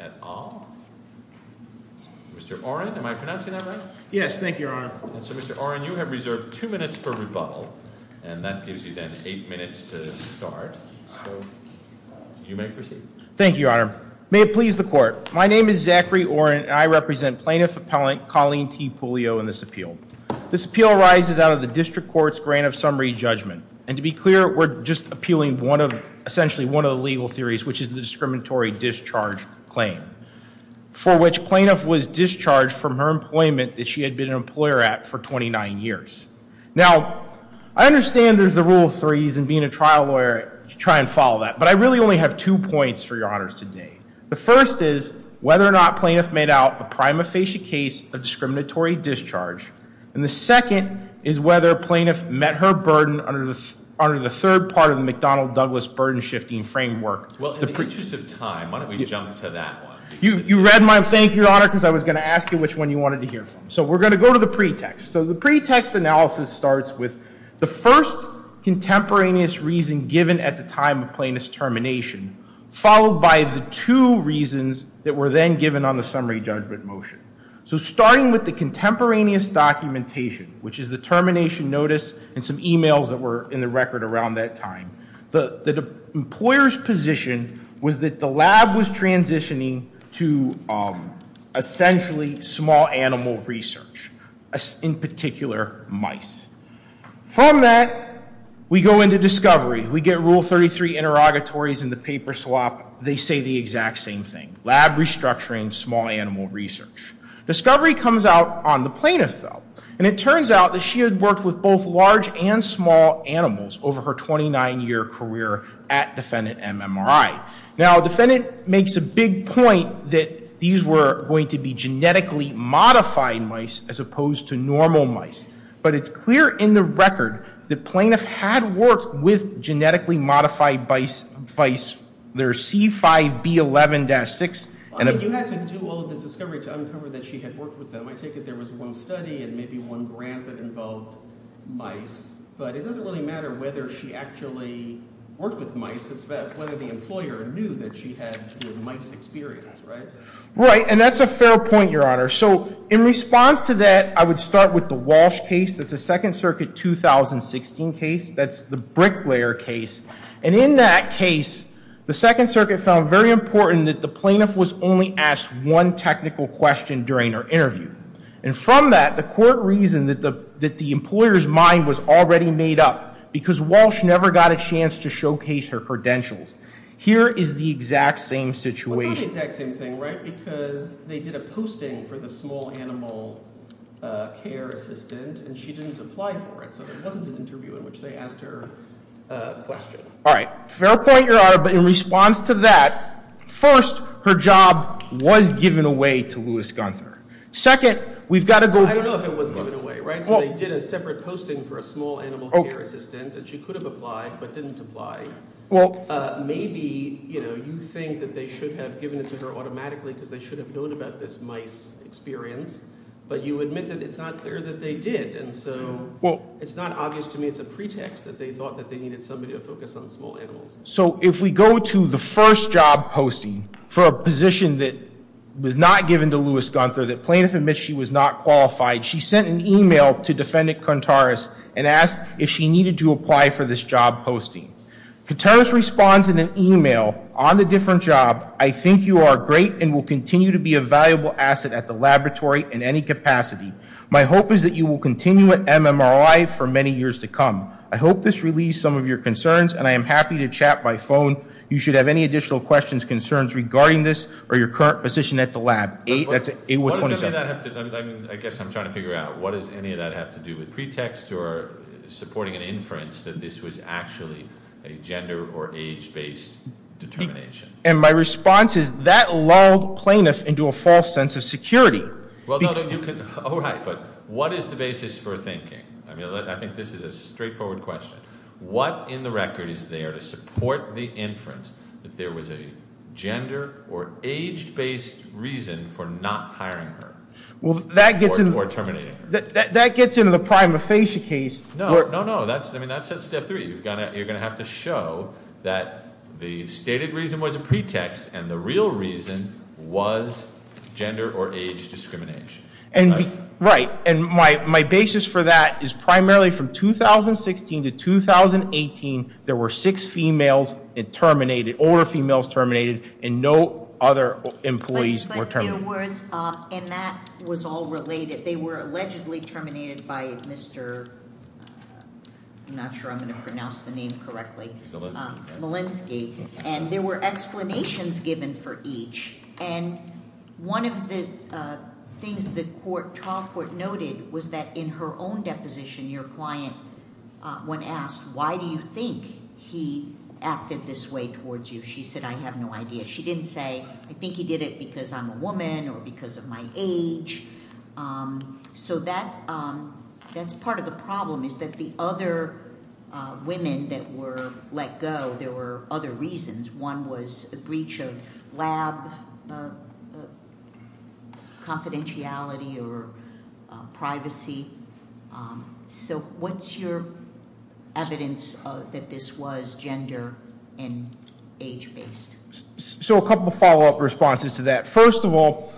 at Ahl. Mr. Orin, am I pronouncing that right? Yes, thank you, Your Honor. So Mr. Orin, you have reserved two minutes for rebuttal, and that gives you then eight minutes to start. So you may proceed. Thank you, Your Honor. May it please the court. My name is Zachary Orin, and I represent plaintiff appellant Colleen T. Puleo in this appeal. This appeal arises out of the district court's grant of summary judgment. And to be clear, we're just appealing one of a number of cases in the district court's grant of summary judgment. Essentially, one of the legal theories, which is the discriminatory discharge claim, for which plaintiff was discharged from her employment that she had been an employer at for 29 years. Now, I understand there's the rule of threes, and being a trial lawyer, you try and follow that. But I really only have two points for Your Honors today. The first is whether or not plaintiff made out a prima facie case of discriminatory discharge. And the second is whether plaintiff met her burden under the third part of the McDonnell-Douglas burden-shifting framework. Well, in the interest of time, why don't we jump to that one? You read my thank you, Your Honor, because I was going to ask you which one you wanted to hear from. So we're going to go to the pretext. So the pretext analysis starts with the first contemporaneous reason given at the time of plaintiff's termination, followed by the two reasons that were then given on the summary judgment motion. So starting with the contemporaneous documentation, which is the termination notice and some emails that were in the record around that time. The employer's position was that the lab was transitioning to essentially small animal research, in particular mice. From that, we go into discovery. We get rule 33 interrogatories in the paper swap. They say the exact same thing, lab restructuring, small animal research. Discovery comes out on the plaintiff, though. And it turns out that she had worked with both large and small animals over her 29 year career at Defendant MMRI. Now, defendant makes a big point that these were going to be genetically modified mice as opposed to normal mice. But it's clear in the record that plaintiff had worked with genetically modified mice. There's C5B11-6 and- I mean, you had to do all of this discovery to uncover that she had worked with them. I take it there was one study and maybe one grant that involved mice. But it doesn't really matter whether she actually worked with mice. It's about whether the employer knew that she had the mice experience, right? Right, and that's a fair point, Your Honor. So in response to that, I would start with the Walsh case. That's a Second Circuit 2016 case. That's the Bricklayer case. And in that case, the Second Circuit found very important that the plaintiff was only asked one technical question during her interview. And from that, the court reasoned that the employer's mind was already made up, because Walsh never got a chance to showcase her credentials. Here is the exact same situation. It's not the exact same thing, right, because they did a posting for the small animal care assistant, and she didn't apply for it. So there wasn't an interview in which they asked her a question. All right, fair point, Your Honor, but in response to that, first, her job was given away to Louis Gunther. Second, we've got to go- I don't know if it was given away, right? So they did a separate posting for a small animal care assistant, and she could have applied, but didn't apply. Maybe you think that they should have given it to her automatically because they should have known about this mice experience. But you admit that it's not clear that they did, and so it's not obvious to me it's a pretext that they thought that they needed somebody to focus on small animals. So if we go to the first job posting for a position that was not given to Louis Gunther, that plaintiff admits she was not qualified, she sent an email to defendant Contaris and asked if she needed to apply for this job posting. Contaris responds in an email, on the different job, I think you are great and will continue to be a valuable asset at the laboratory in any capacity. My hope is that you will continue at MMRI for many years to come. I hope this relieves some of your concerns, and I am happy to chat by phone. You should have any additional questions, concerns regarding this or your current position at the lab. That's 8127. What does any of that have to, I guess I'm trying to figure out, what does any of that have to do with pretext or supporting an inference that this was actually a gender or age based determination? And my response is that lulled plaintiff into a false sense of security. Well, no, you could, all right, but what is the basis for thinking? I mean, I think this is a straightforward question. What in the record is there to support the inference that there was a gender or age based reason for not hiring her or terminating her? That gets into the prima facie case. No, no, no, I mean, that's at step three. You're going to have to show that the stated reason was a pretext and the real reason was gender or age discrimination. And, right, and my basis for that is primarily from 2016 to 2018, there were six females terminated, older females terminated, and no other employees were terminated. And that was all related. They were allegedly terminated by Mr., I'm not sure I'm going to pronounce the name correctly. Melinsky, and there were explanations given for each. And one of the things the trial court noted was that in her own deposition, your client, when asked, why do you think he acted this way towards you? She said, I have no idea. She didn't say, I think he did it because I'm a woman or because of my age. So that's part of the problem is that the other women that were let go, there were other reasons. One was a breach of lab confidentiality or privacy, so what's your evidence that this was gender and age based? So a couple of follow up responses to that. First of all,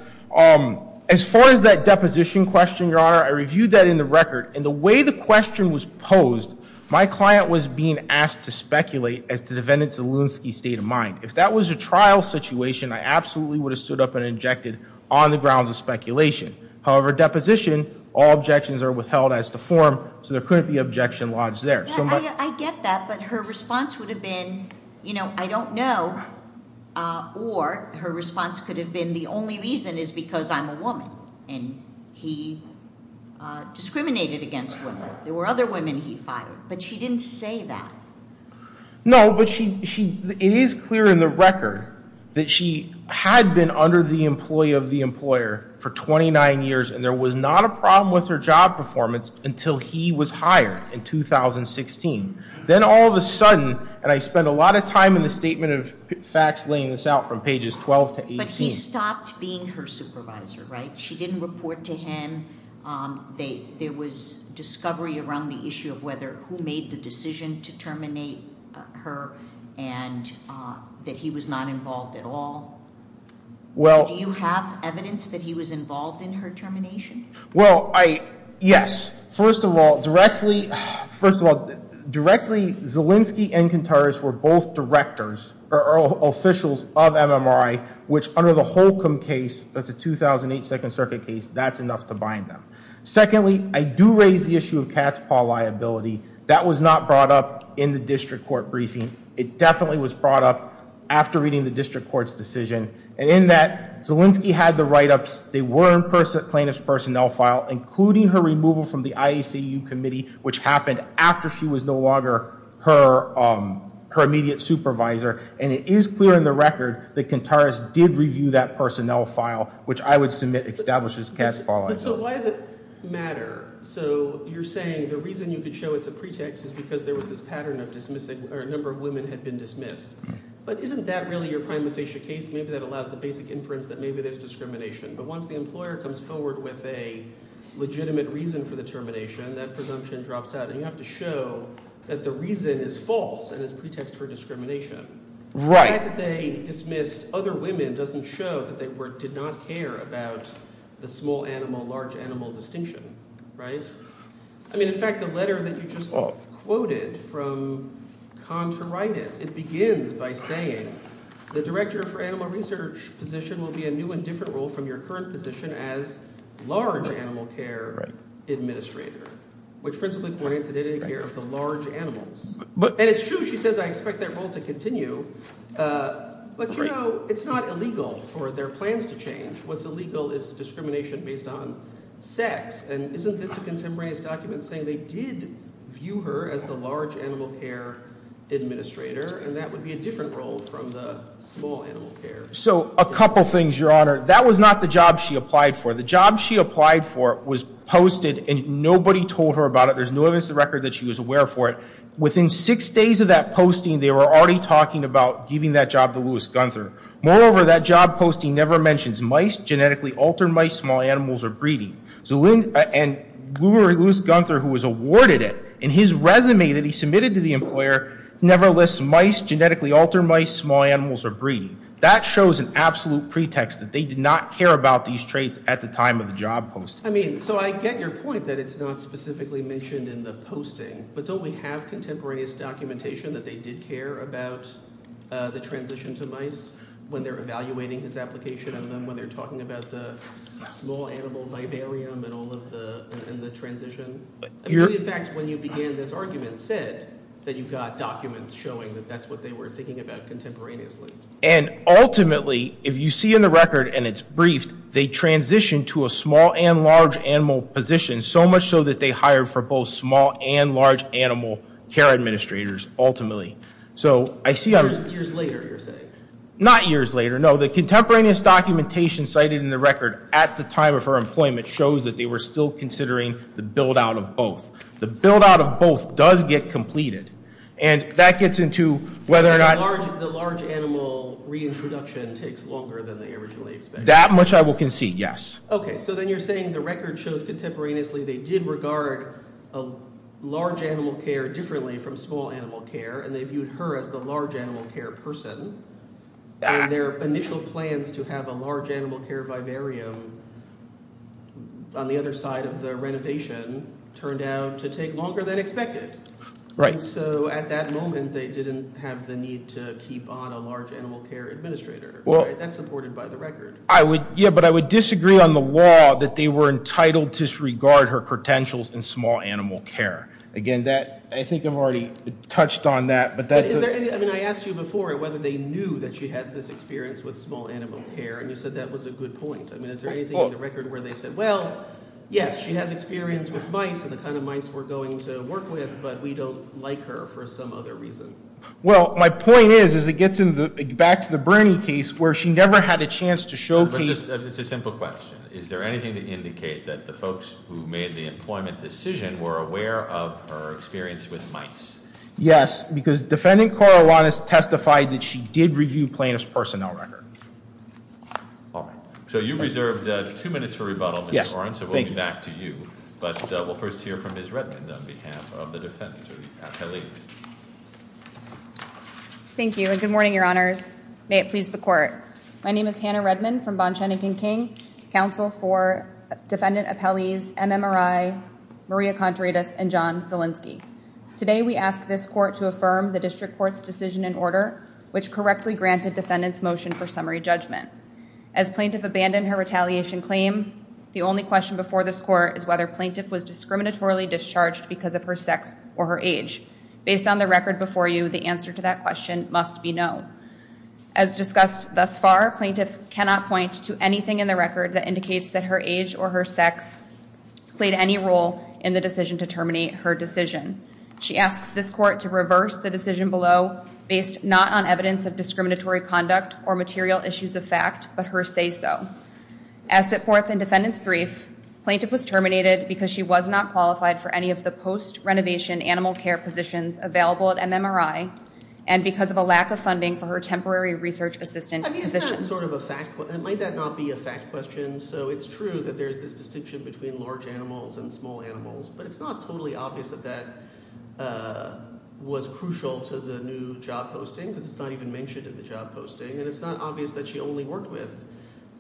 as far as that deposition question, your honor, I reviewed that in the record. And the way the question was posed, my client was being asked to speculate as to the defendants of Lewinsky's state of mind. If that was a trial situation, I absolutely would have stood up and injected on the grounds of speculation. However, deposition, all objections are withheld as to form, so there couldn't be objection lodged there. So my- I get that, but her response would have been, I don't know. Or her response could have been, the only reason is because I'm a woman. And he discriminated against women. There were other women he fired, but she didn't say that. No, but it is clear in the record that she had been under the employee of the employer for 29 years. And there was not a problem with her job performance until he was hired in 2016. Then all of a sudden, and I spent a lot of time in the statement of facts laying this out from pages 12 to 18. But he stopped being her supervisor, right? She didn't report to him. There was discovery around the issue of whether, who made the decision to terminate her and that he was not involved at all. Do you have evidence that he was involved in her termination? Well, yes. First of all, directly Zelinsky and Contreras were both directors, or officials of MMRI, which under the Holcomb case, that's a 2008 Second Circuit case. That's enough to bind them. Secondly, I do raise the issue of Katzpah liability. That was not brought up in the district court briefing. It definitely was brought up after reading the district court's decision. And in that, Zelinsky had the write-ups. They were in plaintiff's personnel file, including her removal from the IACU committee, which happened after she was no longer her immediate supervisor. And it is clear in the record that Contreras did review that personnel file, which I would submit establishes Katzpah liability. But so why does it matter? So you're saying the reason you could show it's a pretext is because there was this pattern of dismissing, or a number of women had been dismissed. But isn't that really your prima facie case? Maybe that allows a basic inference that maybe there's discrimination. But once the employer comes forward with a legitimate reason for the termination, that presumption drops out. And you have to show that the reason is false and is a pretext for discrimination. The fact that they dismissed other women doesn't show that they did not care about the small animal, large animal distinction, right? I mean, in fact, the letter that you just quoted from Contreras, it begins by saying the director for animal research position will be a new and different role from your current position as large animal care administrator. Which principally coordinates the dedicated care of the large animals. And it's true, she says, I expect that role to continue, but you know, it's not illegal for their plans to change. What's illegal is discrimination based on sex. And isn't this a contemporaneous document saying they did view her as the large animal care administrator? And that would be a different role from the small animal care. So a couple things, your honor. That was not the job she applied for. The job she applied for was posted and nobody told her about it. There's no evidence to the record that she was aware for it. Within six days of that posting, they were already talking about giving that job to Louis Gunther. Moreover, that job posting never mentions mice, genetically altered mice, small animals, or breeding. And Louis Gunther, who was awarded it, in his resume that he submitted to the employer, never lists mice, genetically altered mice, small animals, or breeding. That shows an absolute pretext that they did not care about these traits at the time of the job posting. I mean, so I get your point that it's not specifically mentioned in the posting. But don't we have contemporaneous documentation that they did care about the transition to mice? When they're evaluating this application and then when they're talking about the small animal vivarium and all of the transition. In fact, when you began this argument said that you got documents showing that that's what they were thinking about contemporaneously. And ultimately, if you see in the record and it's briefed, they transitioned to a small and large animal position so much so that they hired for both small and large animal care administrators ultimately. So I see- Years later, you're saying? Not years later, no. The contemporaneous documentation cited in the record at the time of her employment shows that they were still considering the build out of both. The build out of both does get completed. And that gets into whether or not- The large animal reintroduction takes longer than they originally expected. That much I will concede, yes. Okay, so then you're saying the record shows contemporaneously they did regard large animal care differently from small animal care. And they viewed her as the large animal care person. And their initial plans to have a large animal care vivarium on the other side of the renovation turned out to take longer than expected. And so at that moment, they didn't have the need to keep on a large animal care administrator. That's supported by the record. Yeah, but I would disagree on the law that they were entitled to disregard her potentials in small animal care. Again, I think I've already touched on that, but that- Is there any, I mean, I asked you before whether they knew that she had this experience with small animal care, and you said that was a good point. I mean, is there anything in the record where they said, well, yes, she has experience with mice and the kind of mice we're going to work with, but we don't like her for some other reason. Well, my point is, as it gets back to the Bernie case, where she never had a chance to showcase- It's a simple question. Is there anything to indicate that the folks who made the employment decision were aware of her experience with mice? Yes, because defendant Corowan has testified that she did review plaintiff's personnel record. All right, so you reserved two minutes for rebuttal, Mr. Oren, so we'll get back to you. But we'll first hear from Ms. Redmond on behalf of the defendants, or the appellees. Thank you, and good morning, your honors. May it please the court. My name is Hannah Redmond from Bonchanigan King, counsel for defendant appellees, MMRI, Maria Contreras, and John Zielinski. Today, we ask this court to affirm the district court's decision and order, which correctly granted defendant's motion for summary judgment. As plaintiff abandoned her retaliation claim, the only question before this court is whether plaintiff was discriminatorily discharged because of her sex or her age. Based on the record before you, the answer to that question must be no. As discussed thus far, plaintiff cannot point to anything in the record that indicates that her age or her sex played any role in the decision to terminate her decision. She asks this court to reverse the decision below, based not on evidence of discriminatory conduct or material issues of fact, but her say so. As set forth in defendant's brief, plaintiff was terminated because she was not qualified for any of the post-renovation animal care positions available at MMRI, and because of a lack of funding for her temporary research assistant position. Is that sort of a fact, might that not be a fact question? So it's true that there's this distinction between large animals and small animals, but it's not totally obvious that that was crucial to the new job posting, because it's not even mentioned in the job posting, and it's not obvious that she only worked with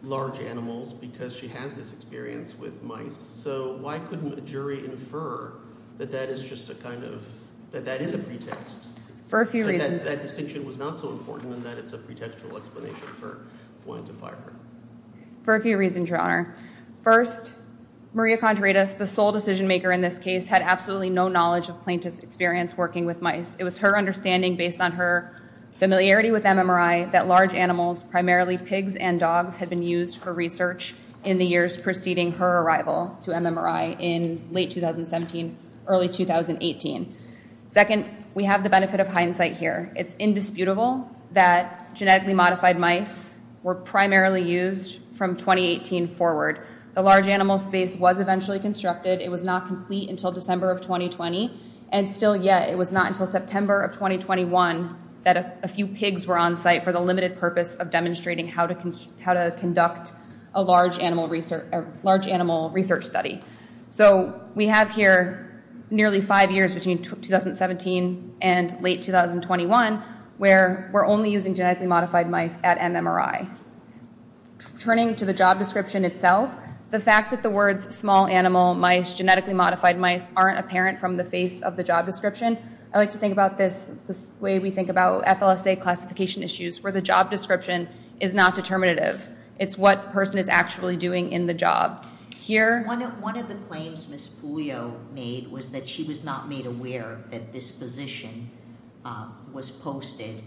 large animals because she has this experience with mice, so why couldn't a jury infer that that is just a kind of, that that is a pretext? For a few reasons. That distinction was not so important in that it's a pretextual explanation for going to fire her. For a few reasons, your honor. First, Maria Contreras, the sole decision maker in this case, had absolutely no knowledge of plaintiff's experience working with mice. It was her understanding based on her familiarity with MMRI that large animals, primarily pigs and dogs, had been used for research in the years preceding her arrival to MMRI in late 2017, early 2018. Second, we have the benefit of hindsight here. It's indisputable that genetically modified mice were primarily used from 2018 forward. The large animal space was eventually constructed. It was not complete until December of 2020, and still yet, it was not until September of 2021 that a few pigs were on site for the limited purpose of demonstrating how to conduct a large animal research study. So we have here nearly five years between 2017 and late 2021 where we're only using genetically modified mice at MMRI. Turning to the job description itself, the fact that the words small animal mice, genetically modified mice aren't apparent from the face of the job description, I like to think about this the way we think about FLSA classification issues, where the job description is not determinative. It's what the person is actually doing in the job. One of the claims Ms. Puglio made was that she was not made aware that this position was posted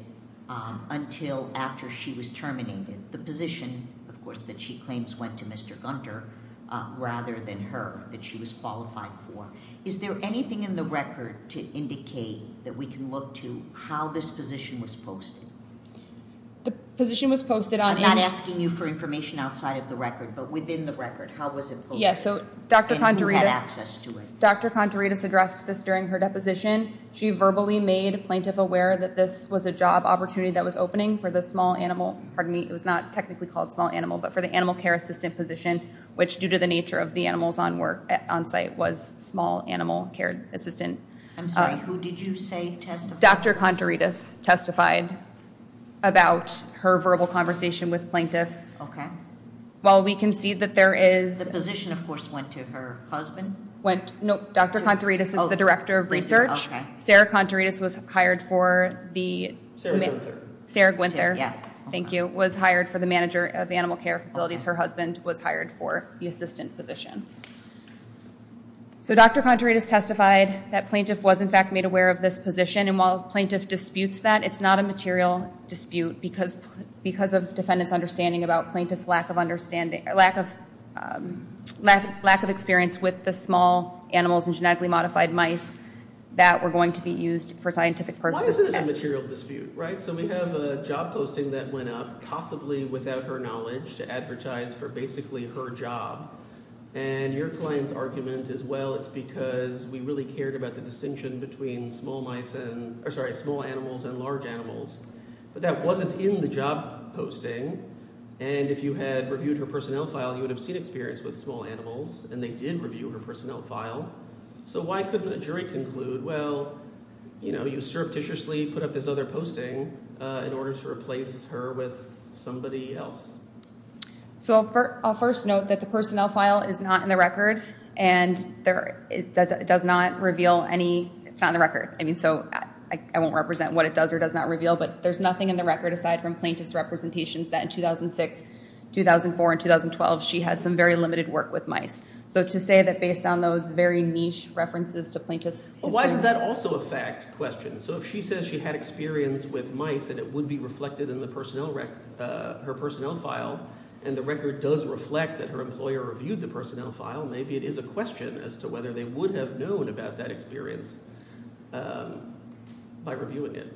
until after she was terminated. The position, of course, that she claims went to Mr. Gunter, rather than her, that she was qualified for. Is there anything in the record to indicate that we can look to how this position was posted? The position was posted on... I'm not asking you for information outside of the record, but within the record, how was it posted? Yes, so Dr. Contaridis addressed this during her deposition. She verbally made a plaintiff aware that this was a job opportunity that was opening for the small animal, pardon me, it was not technically called small animal, but for the animal care assistant position, which due to the nature of the animals on site was small animal care assistant. I'm sorry, who did you say testified? Dr. Contaridis testified about her verbal conversation with plaintiff. While we can see that there is- The position, of course, went to her husband? Went, no, Dr. Contaridis is the director of research. Sarah Contaridis was hired for the- Sarah Gwinther. Sarah Gwinther, thank you, was hired for the manager of animal care facilities. Her husband was hired for the assistant position. So Dr. Contaridis testified that plaintiff was, in fact, made aware of this position. And while plaintiff disputes that, it's not a material dispute because of defendant's understanding about plaintiff's lack of understanding, lack of experience with the small animals and genetically modified mice that were going to be used for scientific purposes. Why is it a material dispute, right? So we have a job posting that went up, possibly without her knowledge, to advertise for basically her job. And your client's argument is, well, it's because we really cared about the distinction between small mice and- Or sorry, small animals and large animals. But that wasn't in the job posting. And if you had reviewed her personnel file, you would have seen experience with small animals. And they did review her personnel file. So why couldn't a jury conclude, well, you know, you surreptitiously put up this other posting in order to replace her with somebody else? So I'll first note that the personnel file is not in the record. And it does not reveal any- it's not in the record. I mean, so I won't represent what it does or does not reveal. But there's nothing in the record aside from plaintiff's representations that in 2006, 2004, and 2012, she had some very limited work with mice. So to say that based on those very niche references to plaintiff's- But why is that also a fact question? So if she says she had experience with mice and it would be reflected in the personnel rec- her personnel file, and the record does reflect that her employer reviewed the personnel file, maybe it is a question as to whether they would have known about that experience by reviewing it.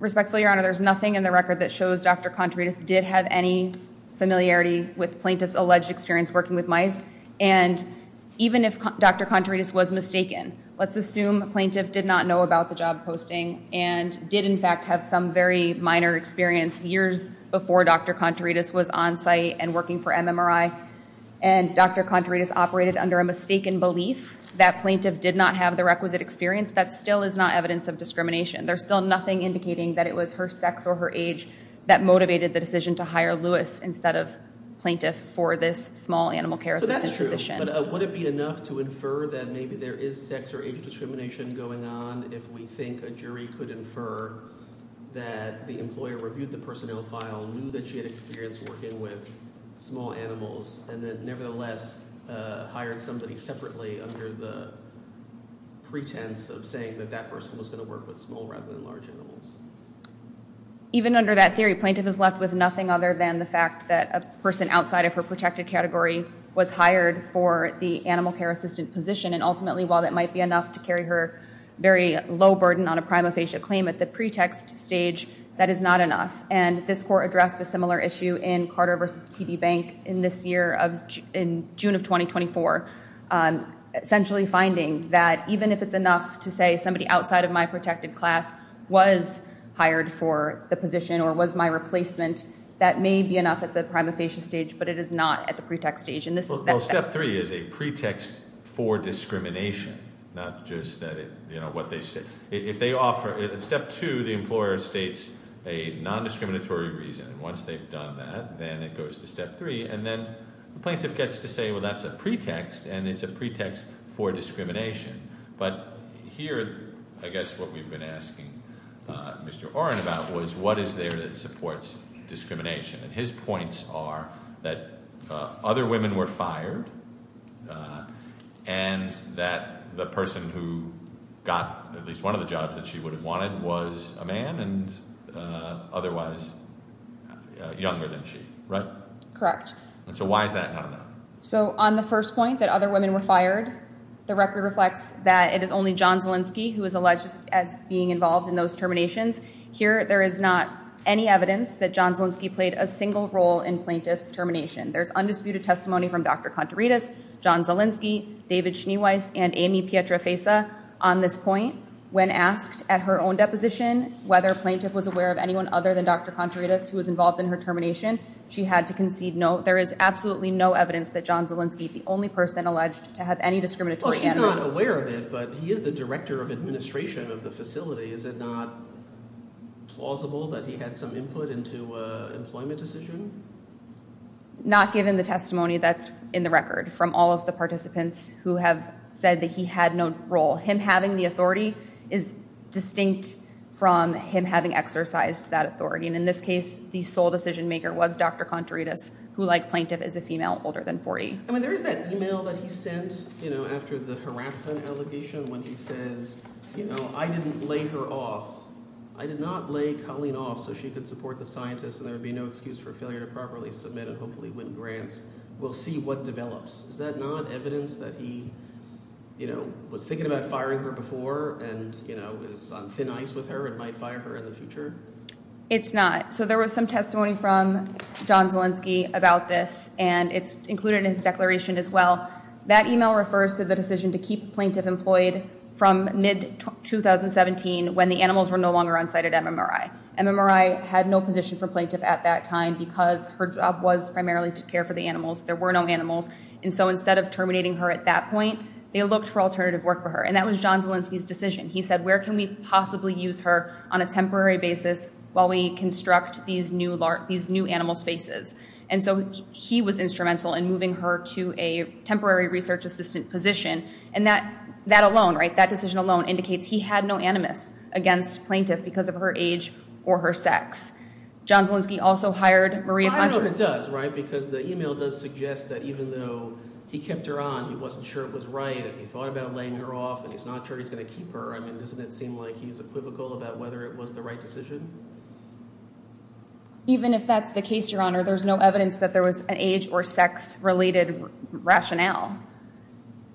Respectfully, Your Honor, there's nothing in the record that shows Dr. Contreras did have any familiarity with plaintiff's alleged experience working with mice. And even if Dr. Contreras was mistaken, let's assume plaintiff did not know about the job posting and did in fact have some very minor experience years before Dr. Contreras was on site and working for MMRI. And Dr. Contreras operated under a mistaken belief that plaintiff did not have the requisite experience, that still is not evidence of discrimination. There's still nothing indicating that it was her sex or her age that motivated the decision to hire Lewis instead of plaintiff for this small animal care assistance. That's true, but would it be enough to infer that maybe there is sex or age discrimination going on if we think a jury could infer that the employer reviewed the personnel file, knew that she had experience working with small animals, and then nevertheless hired somebody separately under the pretense of saying that that person was going to work with small rather than large animals? Even under that theory, plaintiff is left with nothing other than the fact that a person outside of her protected category was hired for the animal care assistant position and ultimately while that might be enough to carry her very low burden on a prima facie claim at the pretext stage, that is not enough. And this court addressed a similar issue in Carter v. TB Bank in this year of, in June of 2024, essentially finding that even if it's enough to say somebody outside of my protected class was hired for the position or was my replacement, that may be enough at the prima facie stage, but it is not at the pretext stage. Well, step three is a pretext for discrimination, not just what they say. Step two, the employer states a non-discriminatory reason. Once they've done that, then it goes to step three. And then the plaintiff gets to say, well, that's a pretext, and it's a pretext for discrimination. But here, I guess what we've been asking Mr. Oren about was what is there that supports discrimination? And his points are that other women were fired and that the person who got at least one of the jobs that she would have wanted was a man and otherwise younger than she, right? Correct. So why is that not enough? So on the first point that other women were fired, the record reflects that it is only John Zielinski who was alleged as being involved in those terminations. Here, there is not any evidence that John Zielinski played a single role in plaintiff's termination. There's undisputed testimony from Dr. Contreras, John Zielinski, David Schneeweiss, and Amy Pietrafesa on this point. When asked at her own deposition whether a plaintiff was aware of anyone other than Dr. Contreras who was involved in her termination, she had to concede no. There is absolutely no evidence that John Zielinski, the only person alleged to have any discriminatory- Well, she's not aware of it, but he is the director of administration of the facility. Is it not plausible that he had some input into an employment decision? Not given the testimony that's in the record from all of the participants who have said that he had no role. Him having the authority is distinct from him having exercised that authority. In this case, the sole decision-maker was Dr. Contreras who, like plaintiff, is a female older than 40. I mean, there is that email that he sent after the harassment allegation when he says, I didn't lay her off. I did not lay Colleen off so she could support the scientists and there would be no excuse for failure to properly submit and hopefully win grants. We'll see what develops. Is that not evidence that he was thinking about firing her before and is on thin ice with her and might fire her in the future? It's not. So there was some testimony from John Zielinski about this and it's included in his declaration as well. That email refers to the decision to keep the plaintiff employed from mid-2017 when the animals were no longer on site at MMRI. MMRI had no position for plaintiff at that time because her job was primarily to care for the animals. There were no animals. And so instead of terminating her at that point, they looked for alternative work for And that was John Zielinski's decision. He said, where can we possibly use her on a temporary basis while we construct these new animal spaces? And so he was instrumental in moving her to a temporary research assistant position. And that decision alone indicates he had no animus against plaintiff because of her age or her sex. John Zielinski also hired Maria Contrer. I don't know if it does because the email does suggest that even though he kept her on, he wasn't sure it was right and he thought about laying her off and he's not sure he's going to keep her. I mean, doesn't it seem like he's equivocal about whether it was the right decision? Even if that's the case, Your Honor, there's no evidence that there was an age or sex-related rationale.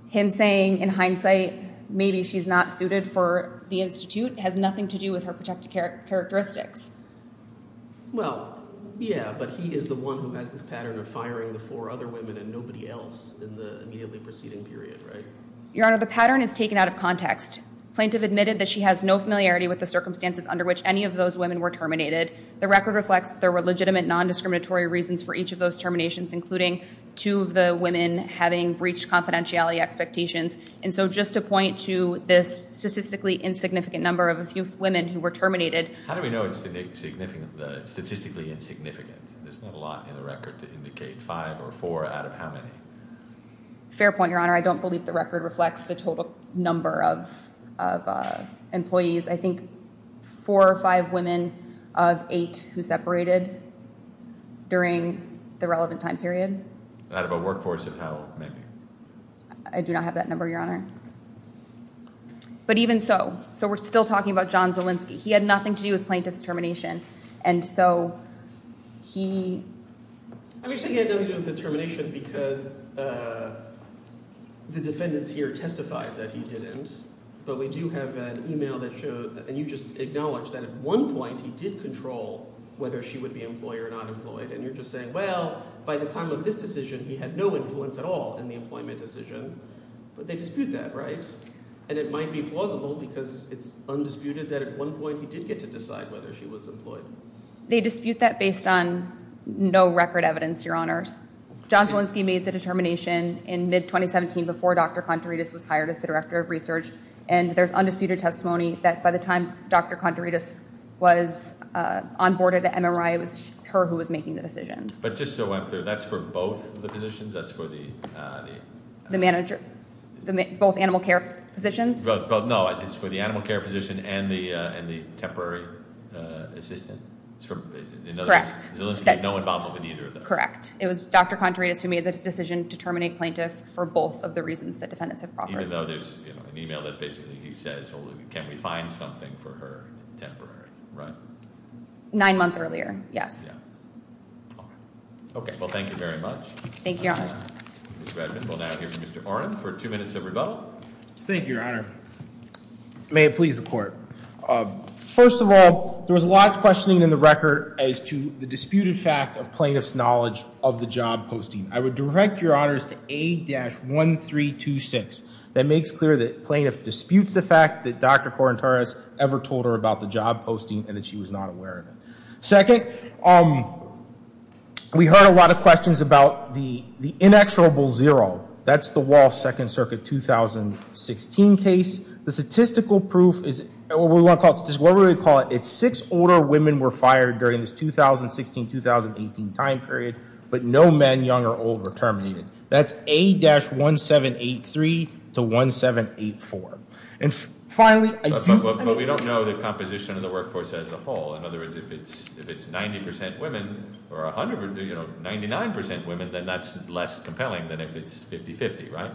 Him saying, in hindsight, maybe she's not suited for the Institute has nothing to do with her protected characteristics. Well, yeah, but he is the one who has this pattern of firing the four other women and nobody else in the immediately preceding period, right? Your Honor, the pattern is taken out of context. Plaintiff admitted that she has no familiarity with the circumstances under which any of those women were terminated. The record reflects that there were legitimate non-discriminatory reasons for each of those terminations, including two of the women having breached confidentiality expectations. And so just to point to this statistically insignificant number of a few women who were terminated. How do we know it's statistically insignificant? There's not a lot in the record to indicate five or four out of how many? Fair point, Your Honor. I don't believe the record reflects the total number of employees. I think four or five women of eight who separated during the relevant time period. Out of a workforce of how many? I do not have that number, Your Honor. But even so, so we're still talking about John Zielinski. He had nothing to do with plaintiff's termination. And so he... I'm not saying he had nothing to do with the termination because the defendants here testified that he didn't. But we do have an email that showed, and you just acknowledged that at one point he did control whether she would be employed or not employed. And you're just saying, well, by the time of this decision, he had no influence at all in the employment decision. But they dispute that, right? And it might be plausible because it's undisputed that at one point he did get to decide whether she was employed. They dispute that based on no record evidence, Your Honors. John Zielinski made the determination in mid-2017 before Dr. Contaridis was hired as the director of research. And there's undisputed testimony that by the time Dr. Contaridis was onboarded at MRI, it was her who was making the decisions. But just so I'm clear, that's for both the positions? That's for the... The manager? Both animal care positions? Both, no. It's for the animal care position and the temporary assistant. In other words, Zielinski had no involvement with either of those. Correct. It was Dr. Contaridis who made the decision to terminate plaintiff for both of the reasons that defendants have proffered. Even though there's an email that basically he says, well, can we find something for her temporary, right? Nine months earlier, yes. Okay. Well, thank you very much. Thank you, Your Honors. Well, now here's Mr. Oren for two minutes of rebuttal. Thank you, Your Honor. May it please the court. First of all, there was a lot of questioning in the record as to the disputed fact of plaintiff's knowledge of the job posting. I would direct Your Honors to A-1326. That makes clear that plaintiff disputes the fact that Dr. Contaridis ever told her about the job posting and that she was not aware of it. Second, we heard a lot of questions about the inexorable zero. That's the Wall Second Circuit 2016 case. The statistical proof is, what we would call it, it's six older women were fired during this 2016-2018 time period, but no men, young or old, were terminated. That's A-1783 to 1784. And finally, I do- But we don't know the composition of the workforce as a whole. In other words, if it's 90% women or 99% women, then that's less compelling than if it's 50-50, right?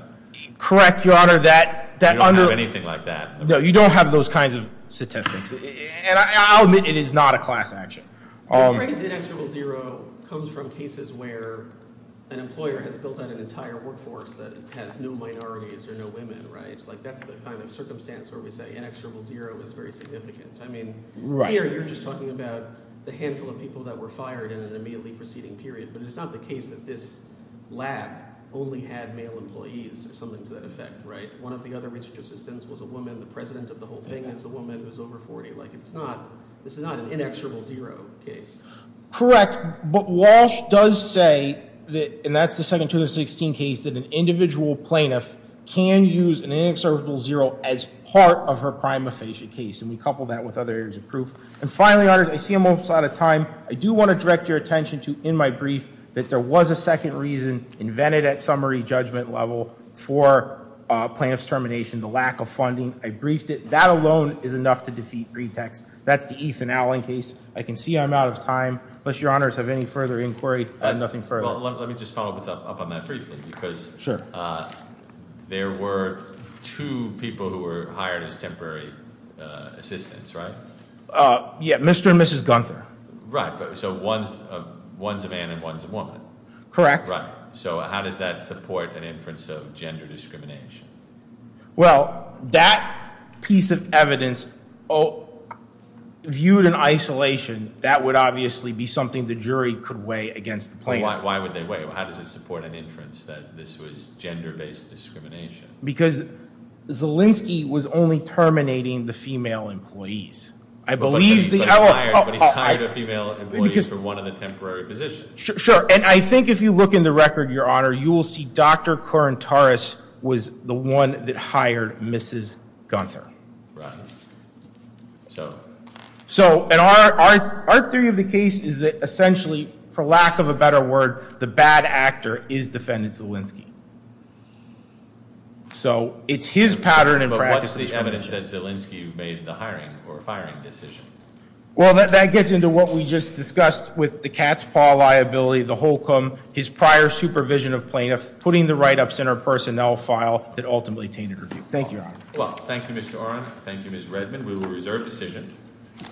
Correct, Your Honor, that- You don't have anything like that. No, you don't have those kinds of statistics. And I'll admit, it is not a class action. The phrase inexorable zero comes from cases where an employer has built out an entire workforce that has no minorities or no women, right? Like, that's the kind of circumstance where we say inexorable zero is very significant. I mean, here you're just talking about the handful of people that were fired in an immediately preceding period, but it's not the case that this lab only had male employees or something to that effect, right? One of the other research assistants was a woman. The president of the whole thing is a woman who's over 40. Like, it's not, this is not an inexorable zero case. Correct, but Walsh does say that, and that's the second 2016 case, that an individual plaintiff can use an inexorable zero as part of her prima facie case, and we couple that with other areas of proof. And finally, honors, I see I'm almost out of time. I do want to direct your attention to, in my brief, that there was a second reason invented at summary judgment level for plaintiff's termination, the lack of funding. I briefed it. That alone is enough to defeat pretext. That's the Ethan Allen case. I can see I'm out of time. Unless your honors have any further inquiry, I have nothing further. Well, let me just follow up on that briefly, because there were two people who were hired as temporary assistants, right? Yeah, Mr. and Mrs. Gunther. Right, so one's a man and one's a woman. Correct. Right, so how does that support an inference of gender discrimination? Well, that piece of evidence, viewed in isolation, that would obviously be something the jury could weigh against the plaintiff. Why would they weigh? How does it support an inference that this was gender-based discrimination? Because Zielinski was only terminating the female employees. I believe the L- But he hired a female employee for one of the temporary positions. Sure. And I think if you look in the record, your honor, you will see Dr. Corintaris was the one that hired Mrs. Gunther. Right. So? So, and our theory of the case is that essentially, for lack of a better word, the bad actor is defendant Zielinski. So it's his pattern and practice that- What's the evidence that Zielinski made the hiring or firing decision? Well, that gets into what we just discussed with the Katz-Paul liability, the Holcomb, his prior supervision of plaintiffs, putting the write-ups in our personnel file that ultimately tainted her view. Thank you, your honor. Well, thank you, Mr. Oren. Thank you, Ms. Redman. We will reserve decision.